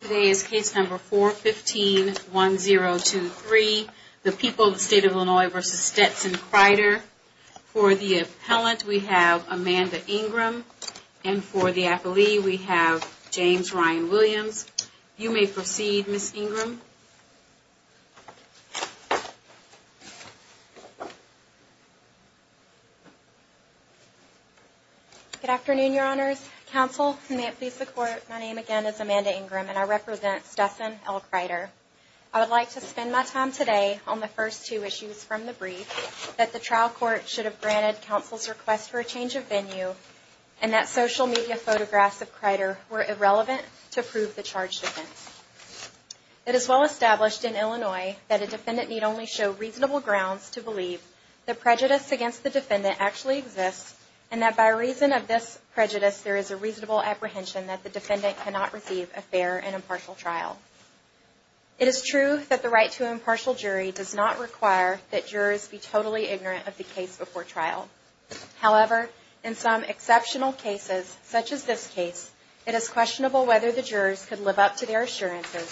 Today is case number 4151023, The People of the State of Illinois v. Stetson-Crider. For the appellant, we have Amanda Ingram. And for the appellee, we have James Ryan Williams. You may proceed, Ms. Ingram. Good afternoon, Your Honors. Counsel, and may it please the Court, my name again is Amanda Ingram, and I represent Stetson v. El Crider. I would like to spend my time today on the first two issues from the brief, that the trial court should have granted counsel's request for a change of venue, and that social media photographs of Crider were irrelevant to prove the charge defense. It is well established in Illinois that a defendant need only show reasonable grounds to believe the prejudice against the defendant actually exists, and that by reason of this prejudice there is a reasonable apprehension that the defendant cannot receive a fair and impartial trial. It is true that the right to impartial jury does not require that jurors be totally ignorant of the case before trial. However, in some exceptional cases, such as this case, it is questionable whether the jurors could live up to their assurances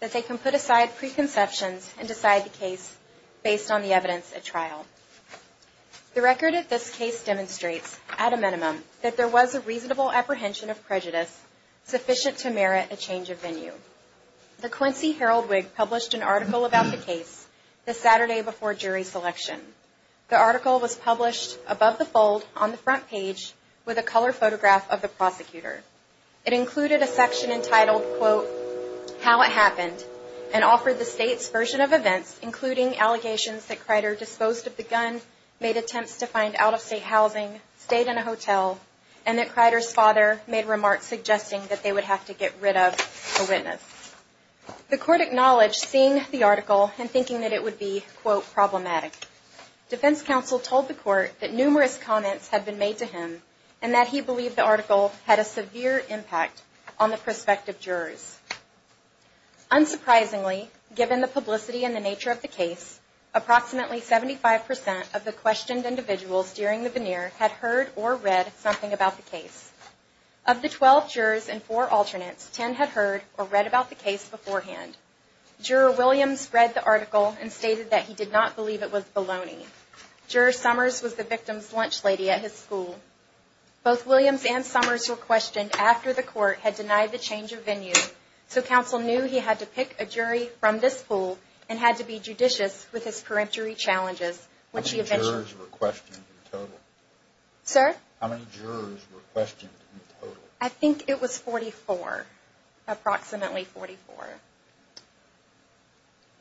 that they can put aside preconceptions and decide the case based on the evidence at trial. The record of this case demonstrates, at a minimum, that there was a reasonable apprehension of prejudice sufficient to merit a change of venue. The Quincy Herald-Wig published an article about the case the Saturday before jury selection. The article was published above the fold on the front page with a color photograph of the prosecutor. It included a section entitled, quote, how it happened, and offered the state's version of events including allegations that Crider disposed of the gun, and that Crider's father made remarks suggesting that they would have to get rid of the witness. The court acknowledged seeing the article and thinking that it would be, quote, problematic. Defense counsel told the court that numerous comments had been made to him, and that he believed the article had a severe impact on the prospective jurors. Unsurprisingly, given the publicity and the nature of the case, approximately 75% of the questioned individuals during the veneer had heard or read something about the case. Of the 12 jurors and four alternates, 10 had heard or read about the case beforehand. Juror Williams read the article and stated that he did not believe it was baloney. Juror Summers was the victim's lunch lady at his school. Both Williams and Summers were questioned after the court had denied the change of venue, so counsel knew he had to pick a jury from this pool and had to be judicious with his peremptory challenges. How many jurors were questioned in total? I think it was 44, approximately 44.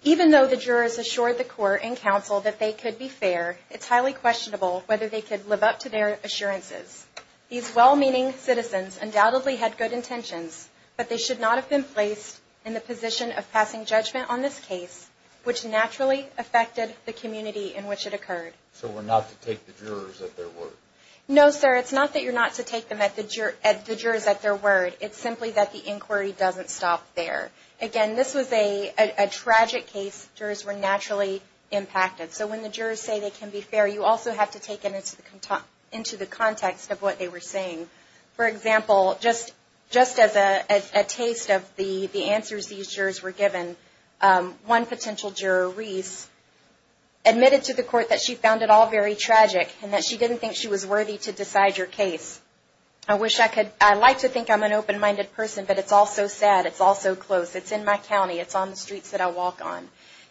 Even though the jurors assured the court and counsel that they could be fair, it's highly questionable whether they could live up to their assurances. These well-meaning citizens undoubtedly had good intentions, but they should not have been placed in the position of passing judgment on this case, which naturally affected the community in which it occurred. So we're not to take the jurors at their word? No, sir. It's not that you're not to take the jurors at their word. It's simply that the inquiry doesn't stop there. Again, this was a tragic case. Jurors were naturally impacted, so when the jurors say they can be fair, you also have to take it into the context of what they were saying. For example, just as a taste of the answers these jurors were given, one potential juror, Reese, admitted to the court that she found it all very tragic and that she didn't think she was worthy to decide her case. I like to think I'm an open-minded person, but it's all so sad. It's all so close. It's in my county. It's on the streets that I walk on.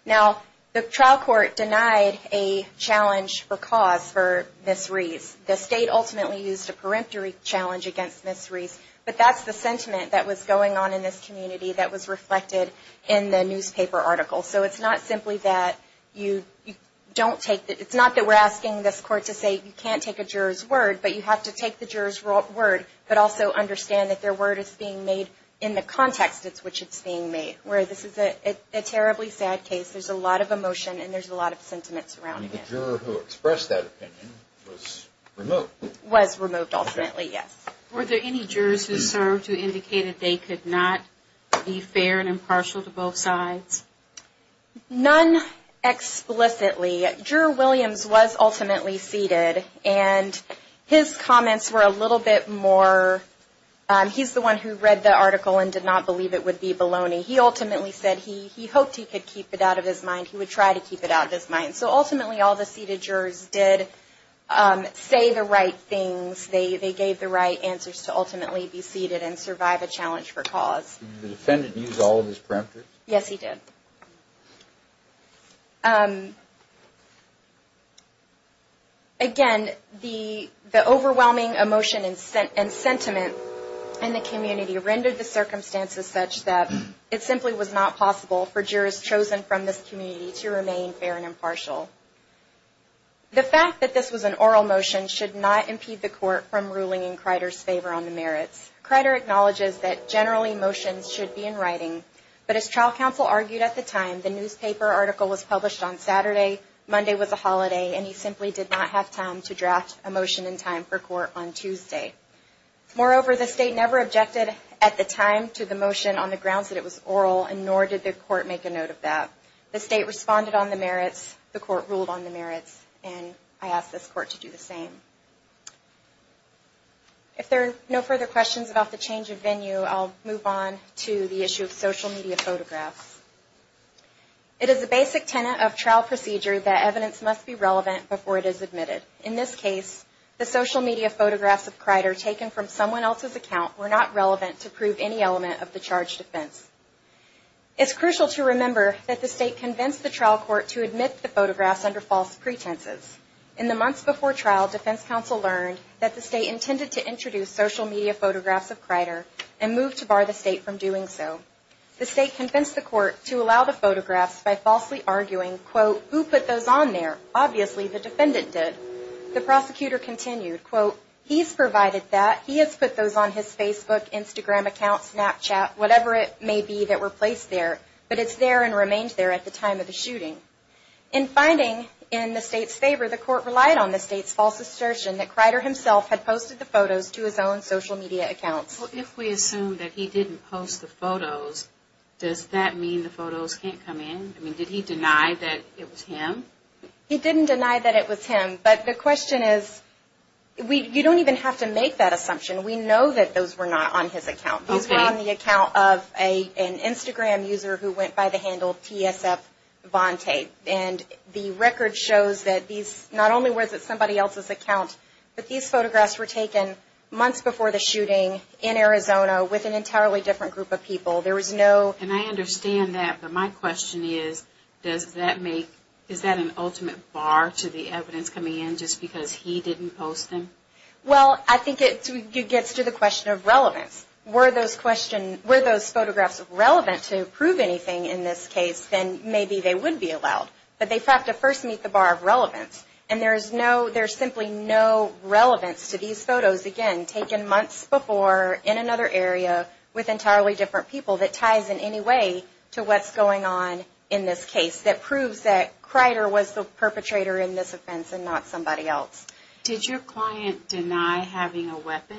Now, the trial court denied a challenge or cause for Ms. Reese. The state ultimately used a peremptory challenge against Ms. Reese, but that's the sentiment that was going on in this community that was reflected in the newspaper article. So, it's not simply that you don't take it. It's not that we're asking this court to say you can't take a juror's word, but you have to take the juror's word, but also understand that their word is being made in the context in which it's being made, where this is a terribly sad case. There's a lot of emotion, and there's a lot of sentiment surrounding it. The juror who expressed that opinion was removed. Was removed, ultimately, yes. Were there any jurors who served who indicated they could not be fair and impartial to both sides? None explicitly. Juror Williams was ultimately seated, and his comments were a little bit more, he's the one who read the article and did not believe it would be baloney. He ultimately said he hoped he could keep it out of his mind. He would try to keep it out of his mind. So, ultimately, all the seated jurors did say the right things. They gave the right answers to ultimately be seated and survive a challenge for cause. Did the defendant use all of his parameters? Yes, he did. Again, the overwhelming emotion and sentiment in the community rendered the circumstances such that it simply was not possible for jurors chosen from this community to remain fair and impartial. The fact that this was an oral motion should not impede the court from ruling in Crider's favor on the merits. Crider acknowledges that generally motions should be in writing, but as trial counsel argued at the time, the newspaper article was published on Saturday, Monday was a holiday, and he simply did not have time to draft a motion in time for court on Tuesday. Moreover, the state never objected at the time to the motion on the grounds that it was oral, and nor did the court make a note of that. The state responded on the merits, the court ruled on the merits, and I ask this court to do the same. If there are no further questions about the change of venue, I'll move on to the issue of social media photographs. It is a basic tenet of trial procedure that evidence must be relevant before it is admitted. In this case, the social media photographs of Crider taken from someone else's account were not relevant to prove any element of the charge defense. It's crucial to remember that the state convinced the trial court to admit the photographs under false pretenses. In the months before trial, defense counsel learned that the state intended to introduce social media photographs of Crider and moved to bar the state from doing so. The state convinced the court to allow the photographs by falsely arguing, quote, who put those on there, obviously the defendant did. The prosecutor continued, quote, he's provided that, he has put those on his Facebook, Instagram account, Snapchat, whatever it may be that were placed there. But it's there and remained there at the time of the shooting. In finding in the state's favor, the court relied on the state's false assertion that Crider himself had posted the photos to his own social media accounts. Well, if we assume that he didn't post the photos, does that mean the photos can't come in? I mean, did he deny that it was him? He didn't deny that it was him. But the question is, you don't even have to make that assumption. We know that those were not on his account. These were on the account of an Instagram user who went by the handle TSF Von Tate. And the record shows that these, not only was it somebody else's account, but these photographs were taken months before the shooting in Arizona with an entirely different group of people. There was no. And I understand that, but my question is, does that make, is that an ultimate bar to the evidence coming in just because he didn't post them? Well, I think it gets to the question of relevance. Were those photographs relevant to prove anything in this case, then maybe they would be allowed. But they have to first meet the bar of relevance. And there's simply no relevance to these photos, again, taken months before in another area with entirely different people that ties in any way to what's going on in this case that proves that Crider was the perpetrator in this offense and not somebody else. Did your client deny having a weapon?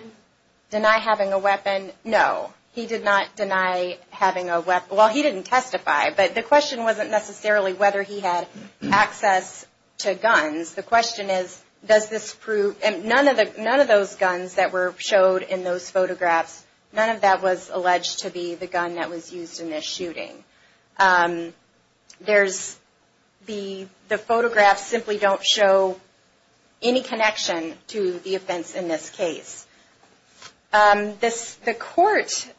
Deny having a weapon, no. He did not deny having a weapon. Well, he didn't testify, but the question wasn't necessarily whether he had access to guns. The question is, does this prove, and none of those guns that were showed in those photographs, none of that was alleged to be the gun that was used in this shooting. There's, the photographs simply don't show any connection to the offense in this case. This, the court,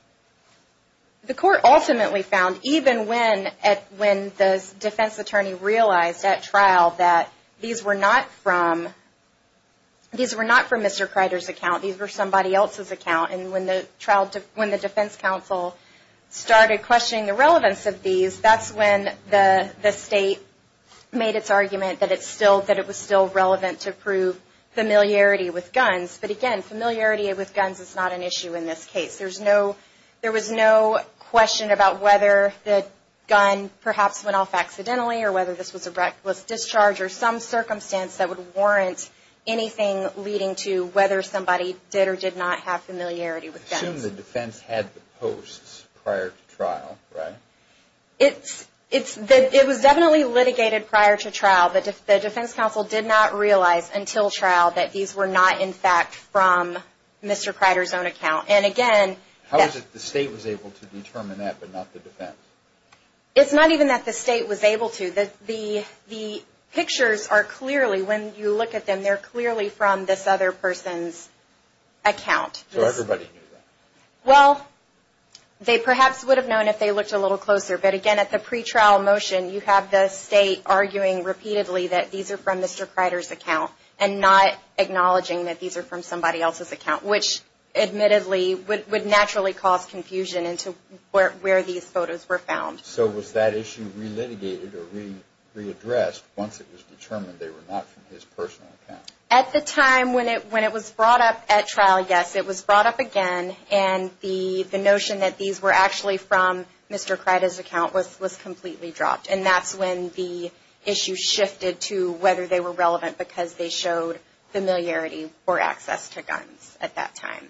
the court ultimately found, even when the defense attorney realized at trial that these were not from, these were not from Mr. Crider's account. These were somebody else's account. And when the trial, when the defense counsel started questioning the relevance of these, that's when the state made its argument that it's still, that it was still relevant to prove familiarity with guns. But again, familiarity with guns is not an issue in this case. There's no, there was no question about whether the gun perhaps went off accidentally or whether this was a reckless discharge or some circumstance that would warrant anything leading to whether somebody did or did not have familiarity with guns. Assume the defense had the posts prior to trial, right? It's, it's, it was definitely litigated prior to trial, but the defense counsel did not realize until trial that these were not, in fact, from Mr. Crider's own account. And again. How is it the state was able to determine that, but not the defense? It's not even that the state was able to. The, the, the pictures are clearly, when you look at them, they're clearly from this other person's account. So everybody knew that? Well, they perhaps would have known if they looked a little closer. But again, at the pretrial motion, you have the state arguing repeatedly that these are from Mr. Crider's account and not acknowledging that these are from somebody else's account, which admittedly would, would naturally cause confusion into where, where these photos were found. So was that issue re-litigated or re, re-addressed once it was determined they were not from his personal account? At the time when it, when it was brought up at trial, yes, it was brought up again. And the, the notion that these were actually from Mr. Crider's account was, was completely dropped. And that's when the issue shifted to whether they were relevant because they showed familiarity or access to guns at that time.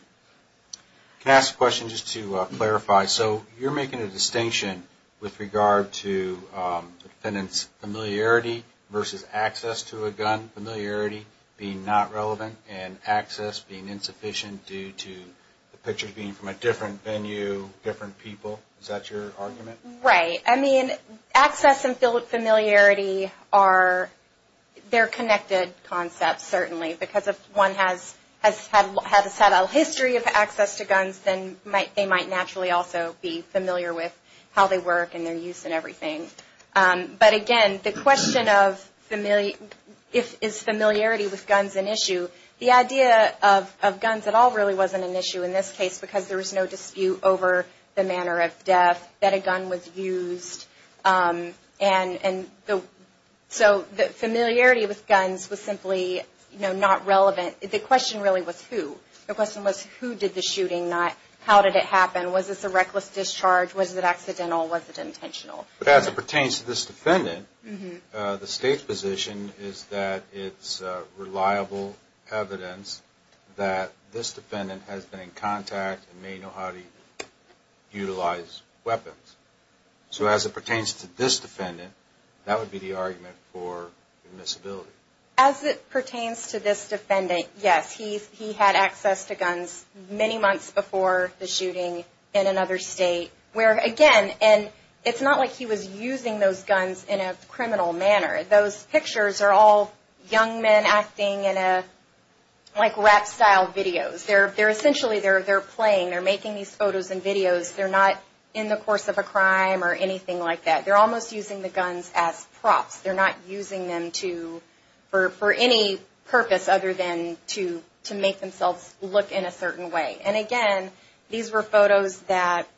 Can I ask a question just to clarify? So you're making a distinction with regard to the defendant's familiarity versus access to a gun. Familiarity being not relevant and access being insufficient due to the pictures being from a different venue, different people. Is that your argument? Right. I mean, access and familiarity are, they're connected concepts, certainly, because if one has, has had, has had a history of access to guns, then might, they might naturally also be familiar with how they work and their use and everything. But again, the question of familiar, if, is familiarity with guns an issue? The idea of, of guns at all really wasn't an issue in this case because there was no dispute over the manner of death that a gun was used. And, and the, so the familiarity with guns was simply, you know, not relevant. The question really was who? The question was who did the shooting, not how did it happen? Was this a reckless discharge? Was it accidental? Was it intentional? But as it pertains to this defendant, the State's position is that it's reliable evidence that this defendant has been in contact and may know how to utilize weapons. So as it pertains to this defendant, that would be the argument for admissibility. As it pertains to this defendant, yes, he, he had access to guns many months before the shooting in another State, where again, and it's not like he was using those guns in a criminal manner. Those pictures are all young men acting in a, like rap style videos. They're, they're essentially, they're, they're playing. They're making these photos and videos. They're not in the course of a crime or anything like that. They're almost using the guns as props. They're not using them to, for, for any purpose other than to, to make themselves look in a certain way. And again, these were photos that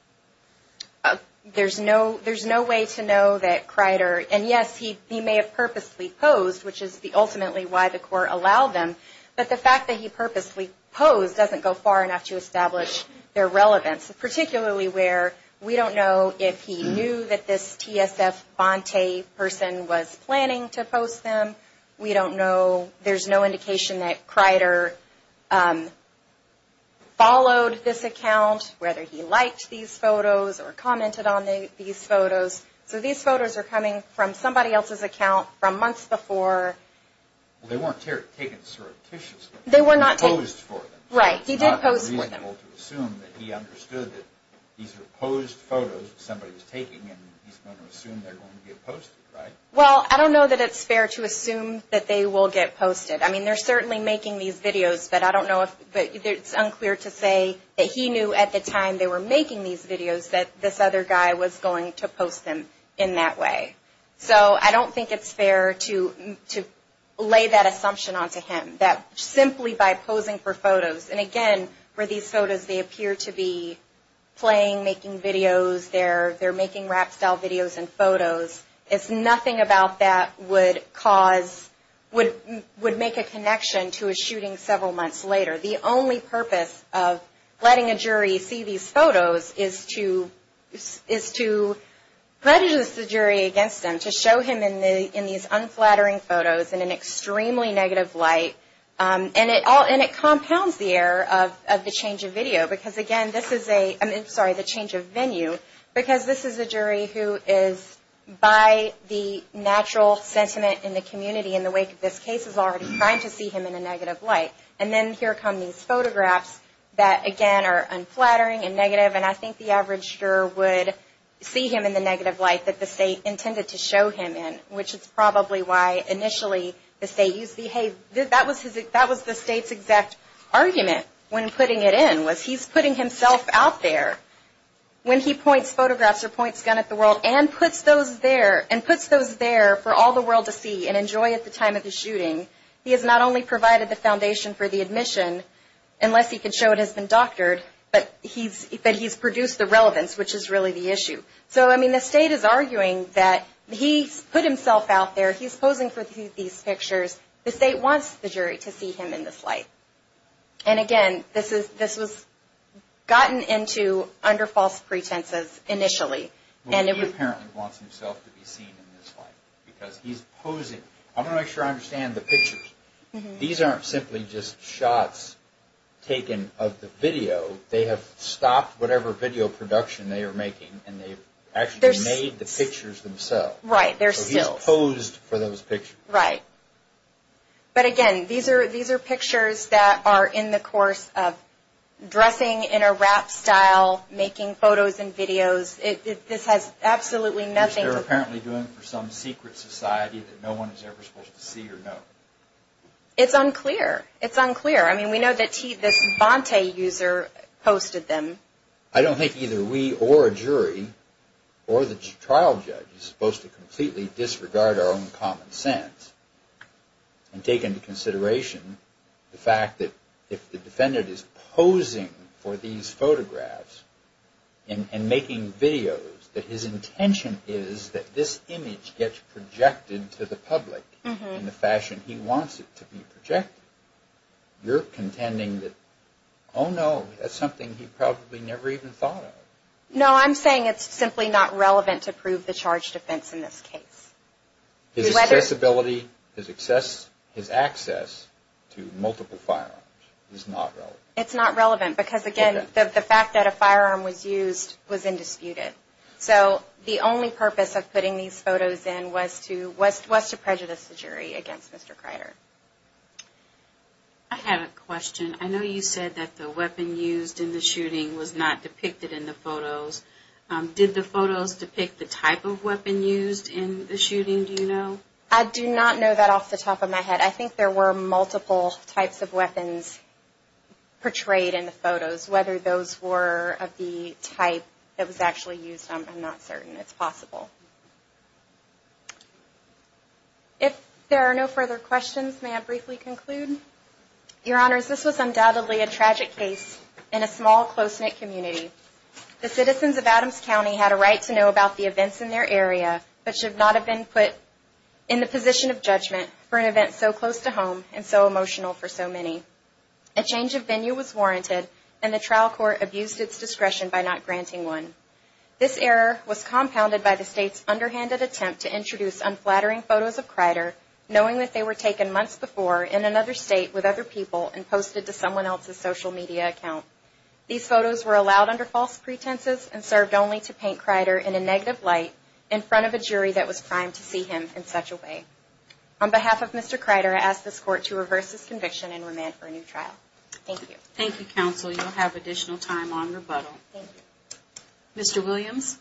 there's no, there's no way to know that Crider, and yes, he, he may have purposely posed, which is the ultimately why the court allowed them, but the fact that he purposely posed doesn't go far enough to establish their relevance, particularly where we don't know if he knew that this T.S.F. Bonte person was planning to post them. We don't know, there's no indication that Crider followed this account, whether he liked these photos or commented on these photos. So these photos are coming from somebody else's account from months before. Well, they weren't taken surreptitiously. They were not taken. He posed for them. Right. He did pose for them. He was able to assume that he understood that these were posed photos that somebody was taking, and he's going to assume they're going to get posted, right? Well, I don't know that it's fair to assume that they will get posted. I mean, they're certainly making these videos, but I don't know if, but it's unclear to say that he knew at the time they were making these videos that this other guy was going to post them in that way. So I don't think it's fair to, to lay that assumption onto him, that simply by posing for photos, and again, for these photos, they appear to be playing, making videos. They're making rap style videos and photos. It's nothing about that would cause, would make a connection to a shooting several months later. The only purpose of letting a jury see these photos is to, is to prejudice the jury against them, to show him in these unflattering photos in an extremely negative light. And it all, and it compounds the error of the change of video, because again, this is a, I mean, sorry, the change of venue, because this is a jury who is by the natural sentiment in the community in the wake of this case is already trying to see him in a negative light. And then here come these photographs that, again, are unflattering and negative, and I think the average juror would see him in the negative light that the state intended to show him in, which is probably why initially the state used the, hey, that was his, that was the state's exact argument when putting it in, was he's putting himself out there when he points photographs or points a gun at the world, and puts those there, and puts those there for all the world to see and enjoy at the time of the shooting. He has not only provided the foundation for the admission, unless he can show it has been doctored, but he's, but he's produced the relevance, which is really the issue. So, I mean, the state is arguing that he's put himself out there, he's posing for these pictures, the state wants the jury to see him in this light. And again, this is, this was gotten into under false pretenses initially. Well, he apparently wants himself to be seen in this light, because he's posing. I'm going to make sure I understand the pictures. These aren't simply just shots taken of the video. They have stopped whatever video production they are making, and they've actually made the pictures themselves. Right, they're still. So he's posed for those pictures. Right. But again, these are, these are pictures that are in the course of dressing in a rap style, making photos and videos. This has absolutely nothing to do. Which they're apparently doing for some secret society that no one is ever supposed to see or know. It's unclear. It's unclear. I mean, we know that this Bonte user posted them. I don't think either we or a jury or the trial judge is supposed to completely disregard our own common sense and take into consideration the fact that if the defendant is posing for these photographs and making videos, that his intention is that this image gets projected to the public in the fashion he wants it to be projected. You're contending that, oh no, that's something he probably never even thought of. No, I'm saying it's simply not relevant to prove the charge defense in this case. His accessibility, his access to multiple firearms is not relevant. It's not relevant, because again, the fact that a firearm was used was indisputed. So the only purpose of putting these photos in was to prejudice the jury against Mr. Kreider. I have a question. I know you said that the weapon used in the shooting was not depicted in the photos. Did the photos depict the type of weapon used in the shooting, do you know? I do not know that off the top of my head. I think there were multiple types of weapons portrayed in the photos, whether those were of the type that was actually used, I'm not certain. It's possible. If there are no further questions, may I briefly conclude? Your Honors, this was undoubtedly a tragic case in a small, close-knit community. The citizens of Adams County had a right to know about the events in their area, but should not have been put in the position of judgment for an event so close to home and so emotional for so many. A change of venue was warranted, and the trial court abused its discretion by not granting one. This error was compounded by the State's underhanded attempt to introduce unflattering photos of Kreider, knowing that they were taken months before in another State with other people and posted to someone else's social media account. These photos were allowed under false pretenses and served only to paint Kreider in a negative light in front of a jury that was primed to see him in such a way. On behalf of Mr. Kreider, I ask this Court to reverse this conviction and remand for a new trial. Thank you. Thank you, Counsel. You will have additional time on rebuttal. Mr. Williams?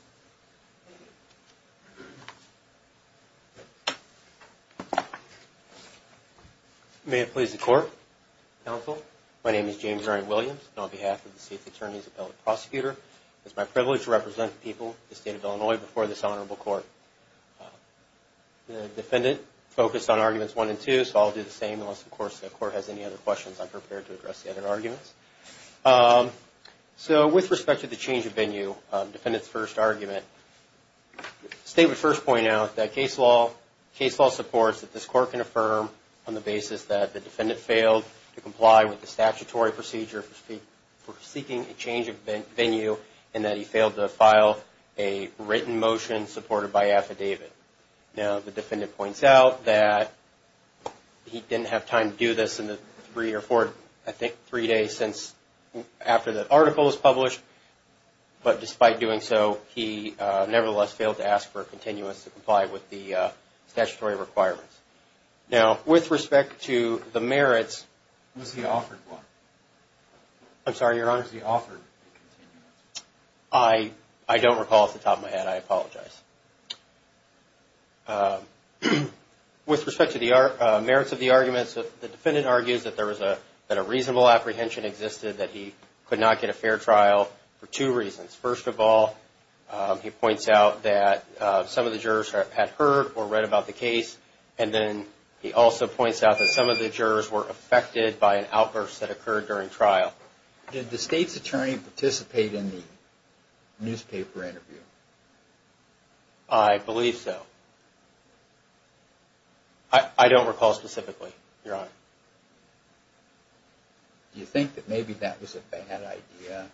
May it please the Court, Counsel. My name is James Ryan Williams, and on behalf of the State's Attorneys Appellate Prosecutor, it is my privilege to represent the people of the State of Illinois before this Honorable Court. The Defendant focused on Arguments 1 and 2, so I'll do the same, unless, of course, the Court has any other questions, I'm prepared to address the other arguments. So with respect to the change of venue, Defendant's first argument, the State would first point out that case law supports that this Court can affirm on the basis that the Defendant failed to comply with the statutory procedure for seeking a change of venue and that he failed to file a written motion supported by affidavit. Now, the Defendant points out that he didn't have time to do this in the three or four, I think three days after the article was published, but despite doing so, he nevertheless failed to ask for a continuance to comply with the statutory requirements. Now, with respect to the merits... Was he offered one? I'm sorry, Your Honor. Was he offered a continuance? I don't recall off the top of my head. I apologize. With respect to the merits of the arguments, the Defendant argues that a reasonable apprehension existed, that he could not get a fair trial for two reasons. First of all, he points out that some of the jurors had heard or read about the case, and then he also points out that some of the jurors were affected by an outburst that occurred during trial. Did the State's attorney participate in the newspaper interview? I believe so. I don't recall specifically, Your Honor. Do you think that maybe that was a bad idea,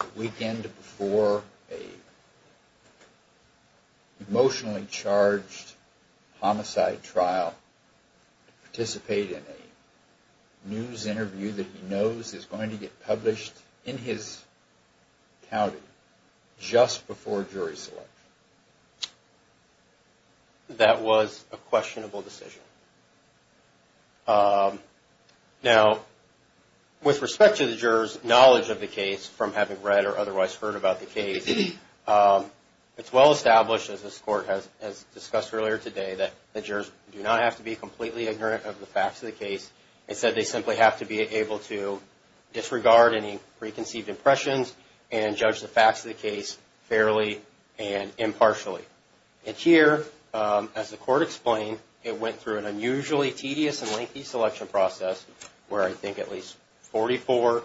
the weekend before an emotionally charged homicide trial, to participate in a news interview that he knows is going to get published in his county, just before jury selection? That was a questionable decision. Now, with respect to the jurors' knowledge of the case, from having read or otherwise heard about the case, it's well established, as this Court has discussed earlier today, that the jurors do not have to be completely ignorant of the facts of the case. Instead, they simply have to be able to disregard any preconceived impressions and judge the facts of the case fairly and impartially. And here, as the Court explained, it went through an unusually tedious and lengthy selection process, where I think at least 44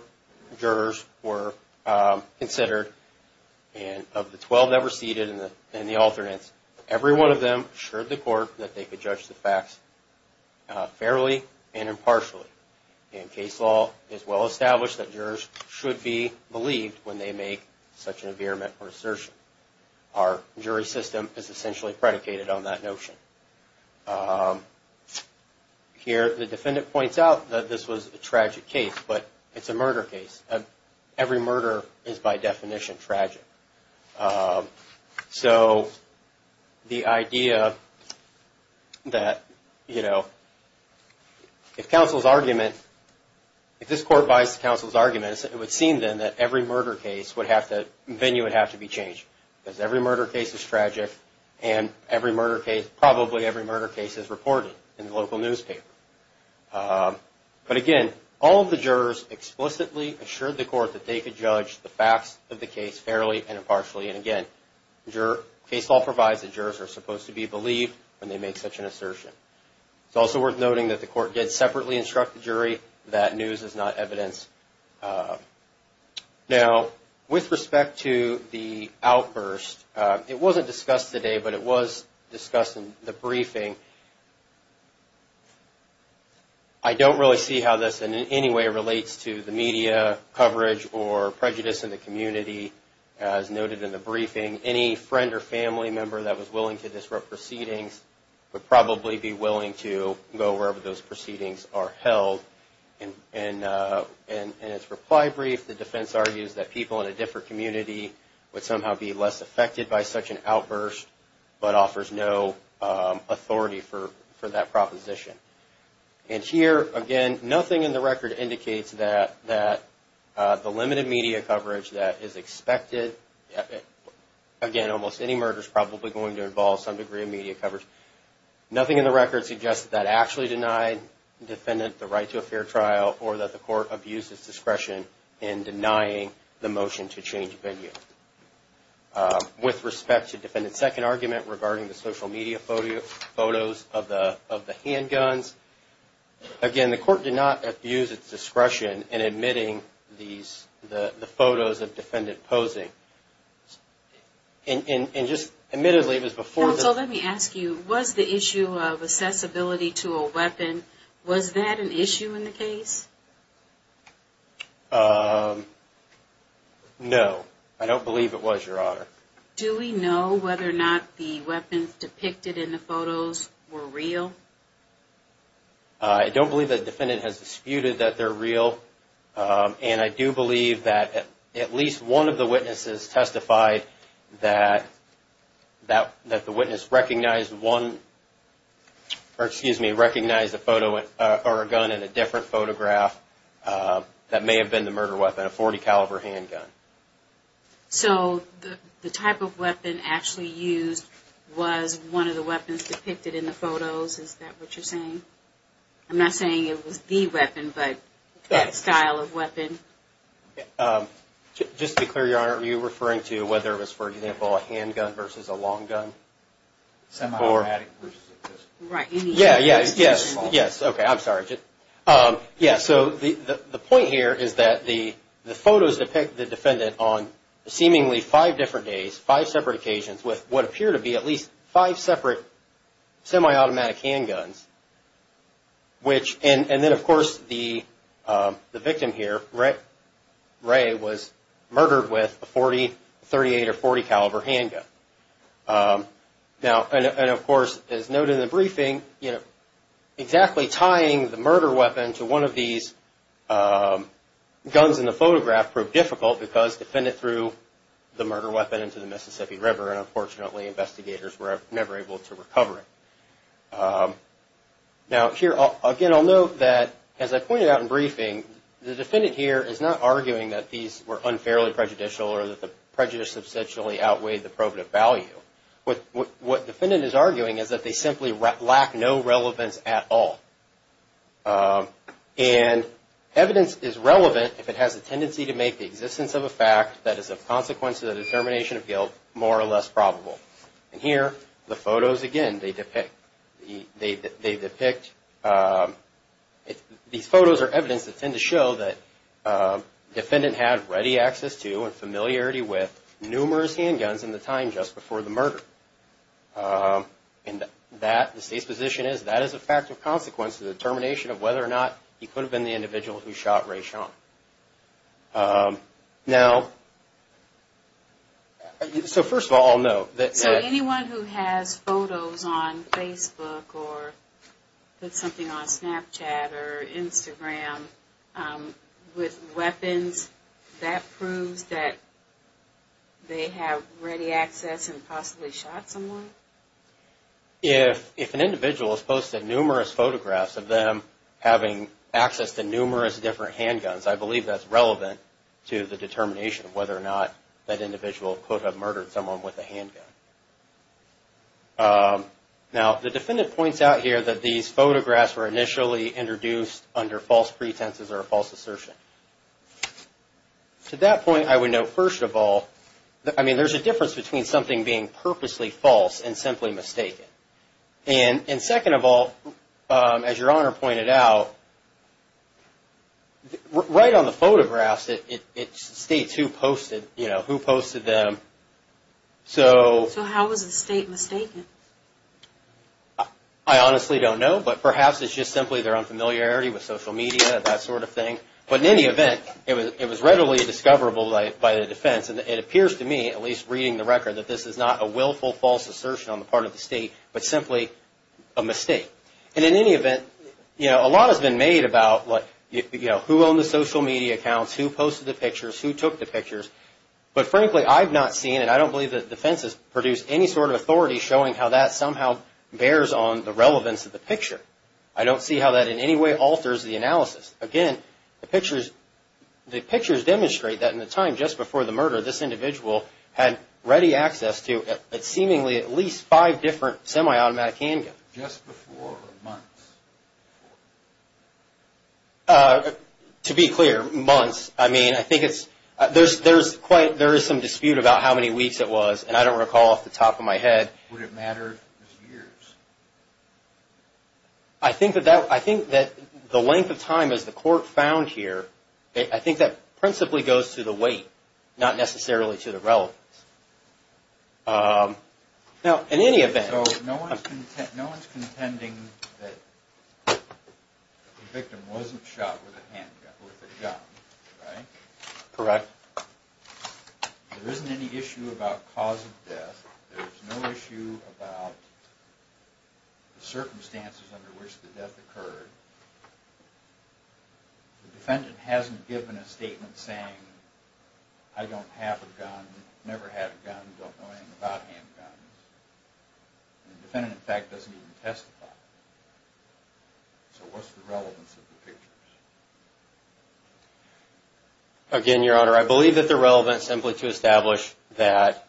jurors were considered. And of the 12 that were seated in the alternates, every one of them assured the Court that they could judge the facts fairly and impartially. And case law is well established that jurors should be believed when they make such an avearment or assertion. Our jury system is essentially predicated on that notion. Here, the defendant points out that this was a tragic case, but it's a murder case. Every murder is, by definition, tragic. So, the idea that, you know, if counsel's argument, if this Court buys the counsel's argument, it would seem then that every murder case would have to be changed. Because every murder case is tragic, and probably every murder case is reported in the local newspaper. But again, all of the jurors explicitly assured the Court that they could judge the facts of the case fairly and impartially. And again, case law provides that jurors are supposed to be believed when they make such an assertion. It's also worth noting that the Court did separately instruct the jury that news is not evidence. Now, with respect to the outburst, it wasn't discussed today, but it was discussed in the briefing. I don't really see how this in any way relates to the media coverage or prejudice in the community, as noted in the briefing. Any friend or family member that was willing to disrupt proceedings would probably be willing to go wherever those proceedings are held. In its reply brief, the defense argues that people in a different community would somehow be less affected by such an outburst, but offers no authority for that proposition. And here, again, nothing in the record indicates that the limited media coverage that is expected, again, almost any murder is probably going to involve some degree of media coverage. Nothing in the record suggests that actually denied the defendant the right to a fair trial or that the Court abused its discretion in denying the motion to change venue. With respect to defendant's second argument regarding the social media photos of the handguns, again, the Court did not abuse its discretion in admitting the photos of defendant posing. Counsel, let me ask you, was the issue of accessibility to a weapon, was that an issue in the case? No, I don't believe it was, Your Honor. Do we know whether or not the weapons depicted in the photos were real? I don't believe the defendant has disputed that they're real. And I do believe that at least one of the witnesses testified that the witness recognized one, or, excuse me, recognized a photo or a gun in a different photograph that may have been the murder weapon, a .40 caliber handgun. So the type of weapon actually used was one of the weapons depicted in the photos? Is that what you're saying? I'm not saying it was the weapon, but that style of weapon? Just to be clear, Your Honor, are you referring to whether it was, for example, a handgun versus a long gun? Semi-automatic versus a pistol. Right, any of those. Yes, yes, yes. Okay, I'm sorry. Yes, so the point here is that the photos depict the defendant on seemingly five different days, five separate occasions with what appear to be at least five separate semi-automatic handguns, and then, of course, the victim here, Ray, was murdered with a .40, .38, or .40 caliber handgun. Now, and, of course, as noted in the briefing, exactly tying the murder weapon to one of these guns in the photograph proved difficult because the defendant threw the murder weapon into the Mississippi River, and, unfortunately, investigators were never able to recover it. Now, here, again, I'll note that, as I pointed out in briefing, the defendant here is not arguing that these were unfairly prejudicial or that the prejudice substantially outweighed the probative value. What defendant is arguing is that they simply lack no relevance at all, and evidence is relevant if it has a tendency to make the existence of a fact that is a consequence of the determination of guilt more or less probable. And here, the photos, again, they depict these photos or evidence that tend to show that the defendant had a familiarity with numerous handguns in the time just before the murder. And that, the State's position is that is a fact of consequence of the determination of whether or not he could have been the individual who shot Ray Sean. Now, so first of all, I'll note that… So anyone who has photos on Facebook or put something on Snapchat or Instagram with weapons, that proves that they have ready access and possibly shot someone? If an individual has posted numerous photographs of them having access to numerous different handguns, I believe that's relevant to the determination of whether or not that individual could have murdered someone with a handgun. Now, the defendant points out here that these photographs were initially introduced under false pretenses or a false assertion. To that point, I would note, first of all, I mean, there's a difference between something being purposely false and simply mistaken. And second of all, as Your Honor pointed out, right on the photographs, it states who posted, you know, who posted them. So how was the State mistaken? I honestly don't know, but perhaps it's just simply their unfamiliarity with social media and that sort of thing. But in any event, it was readily discoverable by the defense, and it appears to me, at least reading the record, that this is not a willful false assertion on the part of the State, but simply a mistake. And in any event, you know, a lot has been made about, like, you know, who owned the social media accounts, who posted the pictures, who took the pictures. But frankly, I've not seen, and I don't believe that the defense has produced any sort of authority showing how that somehow bears on the relevance of the picture. I don't see how that in any way alters the analysis. Again, the pictures demonstrate that in the time just before the murder, this individual had ready access to seemingly at least five different semi-automatic handguns. Just before or months before? To be clear, months. I mean, I think it's – there's quite – there is some dispute about how many weeks it was, and I don't recall off the top of my head. Would it matter if it was years? I think that that – I think that the length of time, as the court found here, I think that principally goes to the weight, not necessarily to the relevance. Now, in any event – So no one's contending that the victim wasn't shot with a handgun, with a gun, right? Correct. There isn't any issue about cause of death. There's no issue about the circumstances under which the death occurred. The defendant hasn't given a statement saying, I don't have a gun, never had a gun, don't know anything about handguns. The defendant, in fact, doesn't even testify. So what's the relevance of the pictures? Again, Your Honor, I believe that they're relevant simply to establish that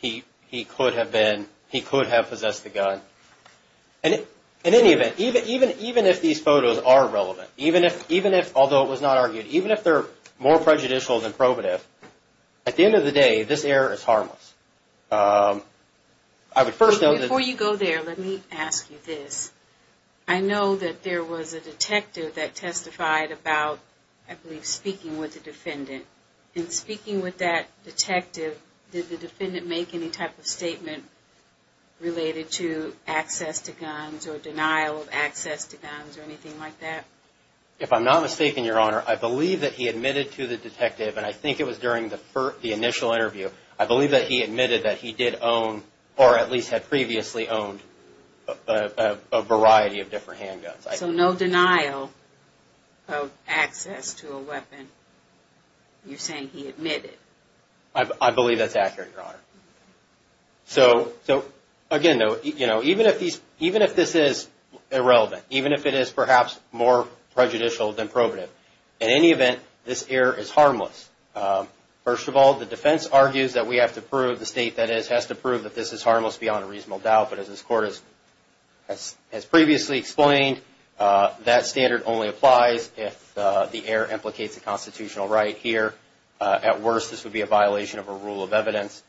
he could have been – he could have possessed the gun. And in any event, even if these photos are relevant, even if – although it was not argued, even if they're more prejudicial than probative, at the end of the day, this error is harmless. I would first note that – Before you go there, let me ask you this. I know that there was a detective that testified about, I believe, speaking with the defendant. In speaking with that detective, did the defendant make any type of statement related to access to guns or denial of access to guns or anything like that? If I'm not mistaken, Your Honor, I believe that he admitted to the detective – and I think it was during the initial interview – I believe that he admitted that he did own, or at least had previously owned, a variety of different handguns. So no denial of access to a weapon. You're saying he admitted. I believe that's accurate, Your Honor. So, again, even if this is irrelevant, even if it is perhaps more prejudicial than probative, in any event, this error is harmless. First of all, the defense argues that we have to prove – the State, that is – has to prove that this is harmless beyond a reasonable doubt. But as this Court has previously explained, that standard only applies if the error implicates a constitutional right. Here, at worst, this would be a violation of a rule of evidence.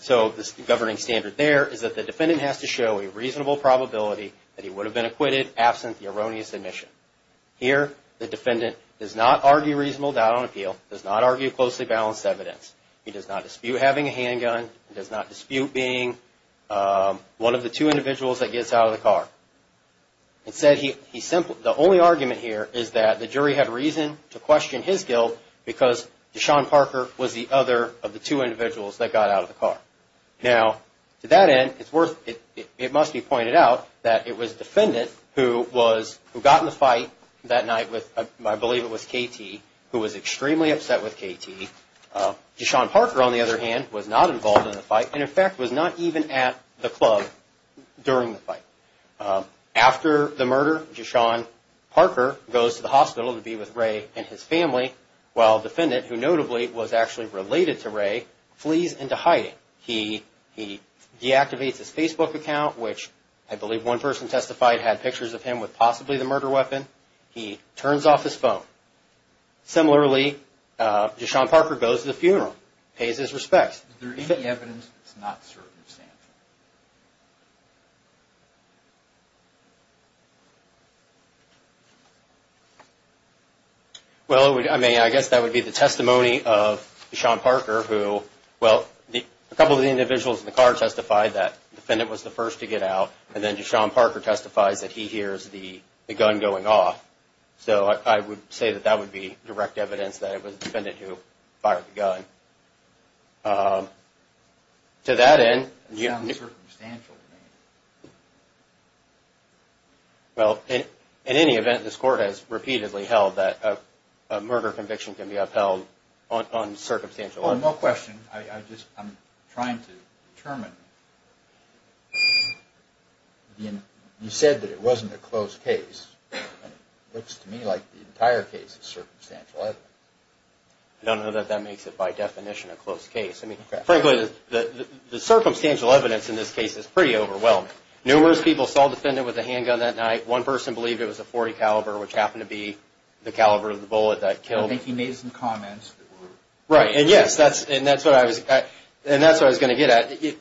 So the governing standard there is that the defendant has to show a reasonable probability that he would have been acquitted absent the erroneous admission. Here, the defendant does not argue reasonable doubt on appeal, does not argue closely balanced evidence. He does not dispute having a handgun. He does not dispute being one of the two individuals that gets out of the car. The only argument here is that the jury had reason to question his guilt because Deshaun Parker was the other of the two individuals that got out of the car. Now, to that end, it must be pointed out that it was the defendant who got in the fight that night with – I believe it was KT – who was extremely upset with KT. Deshaun Parker, on the other hand, was not involved in the fight and, in fact, was not even at the club during the fight. After the murder, Deshaun Parker goes to the hospital to be with Ray and his family while the defendant, who notably was actually related to Ray, flees into hiding. He deactivates his Facebook account, which I believe one person testified had pictures of him with possibly the murder weapon. He turns off his phone. Similarly, Deshaun Parker goes to the funeral, pays his respects. Is there any evidence that is not circumstantial? Well, I mean, I guess that would be the testimony of Deshaun Parker, who – well, a couple of the individuals in the car testified that the defendant was the first to get out, and then Deshaun Parker testifies that he hears the gun going off. So I would say that that would be direct evidence that it was the defendant who fired the gun. To that end – It sounds circumstantial to me. Well, in any event, this Court has repeatedly held that a murder conviction can be upheld on circumstantial evidence. One more question. I'm trying to determine. You said that it wasn't a closed case. It looks to me like the entire case is circumstantial evidence. I don't know that that makes it by definition a closed case. Frankly, the circumstantial evidence in this case is pretty overwhelming. Numerous people saw the defendant with a handgun that night. One person believed it was a .40 caliber, which happened to be the caliber of the bullet that killed him. I think he made some comments. Right, and yes, that's what I was going to get at.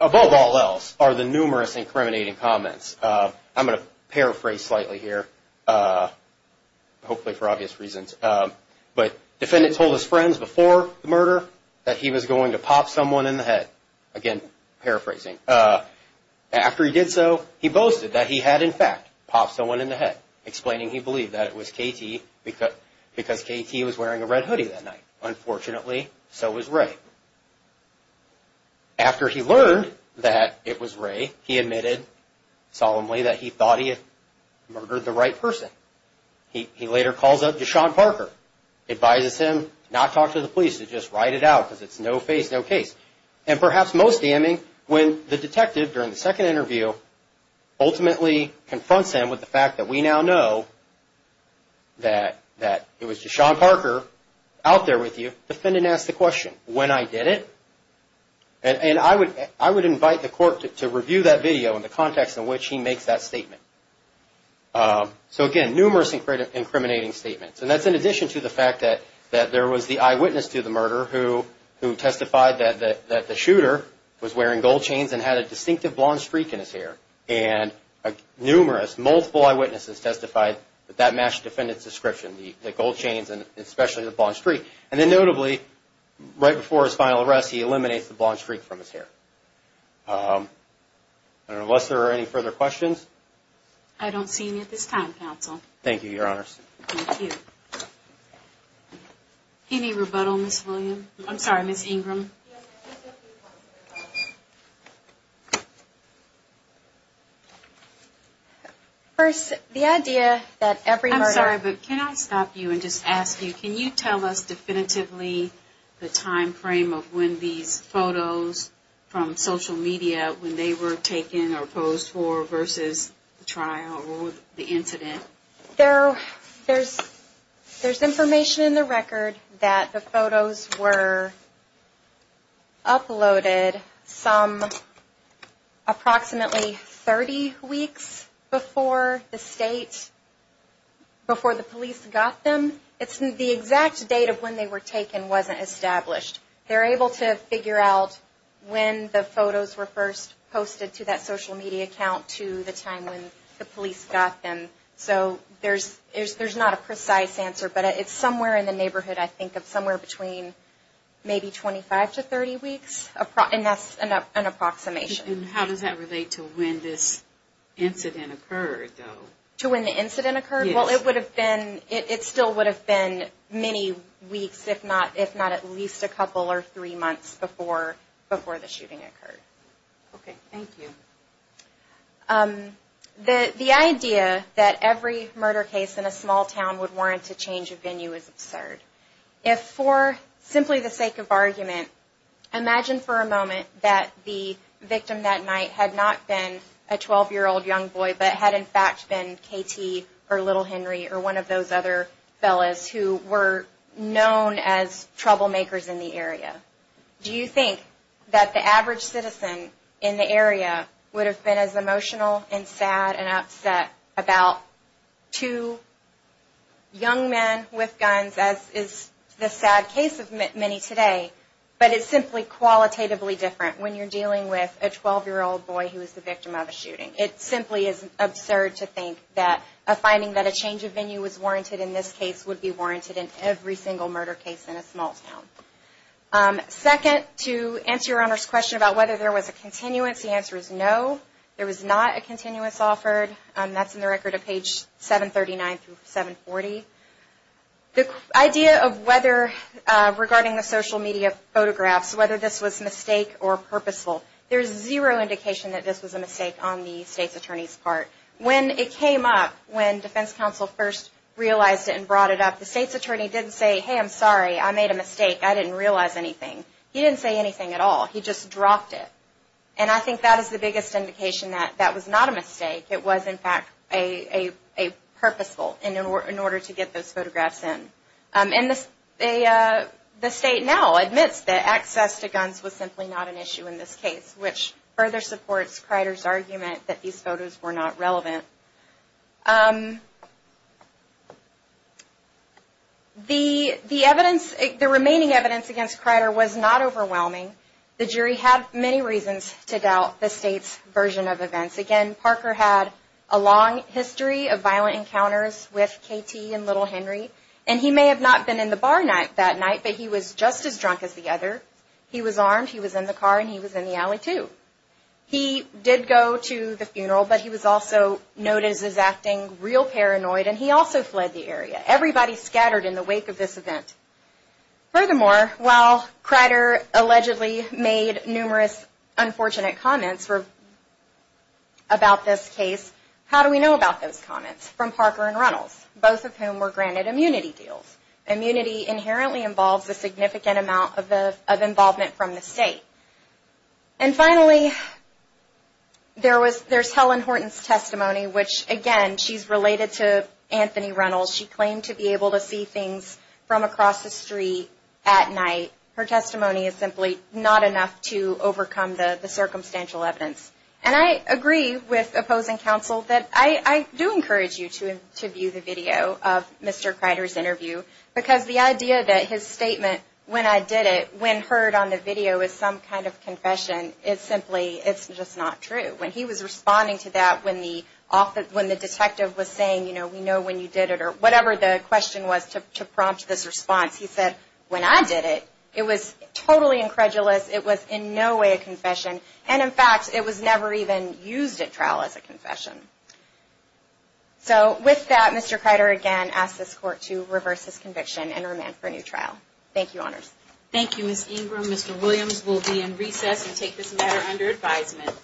Above all else are the numerous incriminating comments. I'm going to paraphrase slightly here, hopefully for obvious reasons. The defendant told his friends before the murder that he was going to pop someone in the head. Again, paraphrasing. After he did so, he boasted that he had in fact popped someone in the head, explaining he believed that it was KT because KT was wearing a red hoodie that night. Unfortunately, so was Ray. After he learned that it was Ray, he admitted solemnly that he thought he had murdered the right person. He later calls up Deshaun Parker, advises him not to talk to the police, to just write it out because it's no-face, no-case. Perhaps most damning, when the detective, during the second interview, ultimately confronts him with the fact that we now know that it was Deshaun Parker out there with you, the defendant asked the question, when I did it? I would invite the court to review that video in the context in which he makes that statement. Again, numerous incriminating statements. That's in addition to the fact that there was the eyewitness to the murder who testified that the shooter was wearing gold chains and had a distinctive blonde streak in his hair. Numerous, multiple eyewitnesses testified that that matched the defendant's description, the gold chains and especially the blonde streak. Notably, right before his final arrest, he eliminates the blonde streak from his hair. Unless there are any further questions? I don't see any at this time, counsel. Thank you, Your Honor. Thank you. Any rebuttal, Ms. William? I'm sorry, Ms. Ingram? First, the idea that every murder... I'm sorry, but can I stop you and just ask you, can you tell us definitively the time frame of when these photos from social media, when they were taken or posed for versus the trial or the incident? There's information in the record that the photos were uploaded some approximately 30 weeks before the state, before the police got them. It's the exact date of when they were taken wasn't established. They're able to figure out when the photos were first posted to that social media account to the time when the police got them. So there's not a precise answer, but it's somewhere in the neighborhood, I think, of somewhere between maybe 25 to 30 weeks, and that's an approximation. And how does that relate to when this incident occurred, though? To when the incident occurred? Yes. It would have been, it still would have been many weeks, if not at least a couple or three months before the shooting occurred. Okay, thank you. The idea that every murder case in a small town would warrant a change of venue is absurd. If for simply the sake of argument, imagine for a moment that the victim that night had not been a 12-year-old young boy, but had in fact been K.T. or Little Henry or one of those other fellas who were known as troublemakers in the area. Do you think that the average citizen in the area would have been as emotional and sad and upset about two young men with guns as is the sad case of many today, but it's simply qualitatively different when you're dealing with a 12-year-old boy who is the victim of a shooting? It simply is absurd to think that a finding that a change of venue was warranted in this case would be warranted in every single murder case in a small town. Second, to answer Your Honor's question about whether there was a continuance, the answer is no. There was not a continuance offered. That's in the record of page 739 through 740. The idea of whether regarding the social media photographs, whether this was a mistake or purposeful, there's zero indication that this was a mistake on the State's Attorney's part. When it came up, when Defense Counsel first realized it and brought it up, the State's Attorney didn't say, hey, I'm sorry, I made a mistake, I didn't realize anything. He didn't say anything at all. He just dropped it. And I think that is the biggest indication that that was not a mistake. It was, in fact, a purposeful in order to get those photographs in. And the State now admits that access to guns was simply not an issue in this case, which further supports Kreider's argument that these photos were not relevant. The remaining evidence against Kreider was not overwhelming. The jury had many reasons to doubt the State's version of events. Again, Parker had a long history of violent encounters with K.T. and Little Henry, and he may have not been in the bar that night, but he was just as drunk as the other. He was armed, he was in the car, and he was in the alley, too. He did go to the funeral, but he was also noted as acting real paranoid, and he also fled the area. Everybody scattered in the wake of this event. Furthermore, while Kreider allegedly made numerous unfortunate comments about this case, how do we know about those comments from Parker and Reynolds, both of whom were granted immunity deals? Immunity inherently involves a significant amount of involvement from the State. And finally, there's Helen Horton's testimony, which, again, she's related to Anthony Reynolds. She claimed to be able to see things from across the street at night. Her testimony is simply not enough to overcome the circumstantial evidence. And I agree with opposing counsel that I do encourage you to view the video of Mr. Kreider's interview, because the idea that his statement, when I did it, when heard on the video, is some kind of confession, it's simply just not true. When he was responding to that, when the detective was saying, you know, we know when you did it, or whatever the question was to prompt this response, he said, when I did it, it was totally incredulous. It was in no way a confession. And, in fact, it was never even used at trial as a confession. So with that, Mr. Kreider, again, asks this Court to reverse his conviction and remand for a new trial. Thank you, Honors. Thank you, Ms. Ingram. Mr. Williams will be in recess and take this matter under advisement.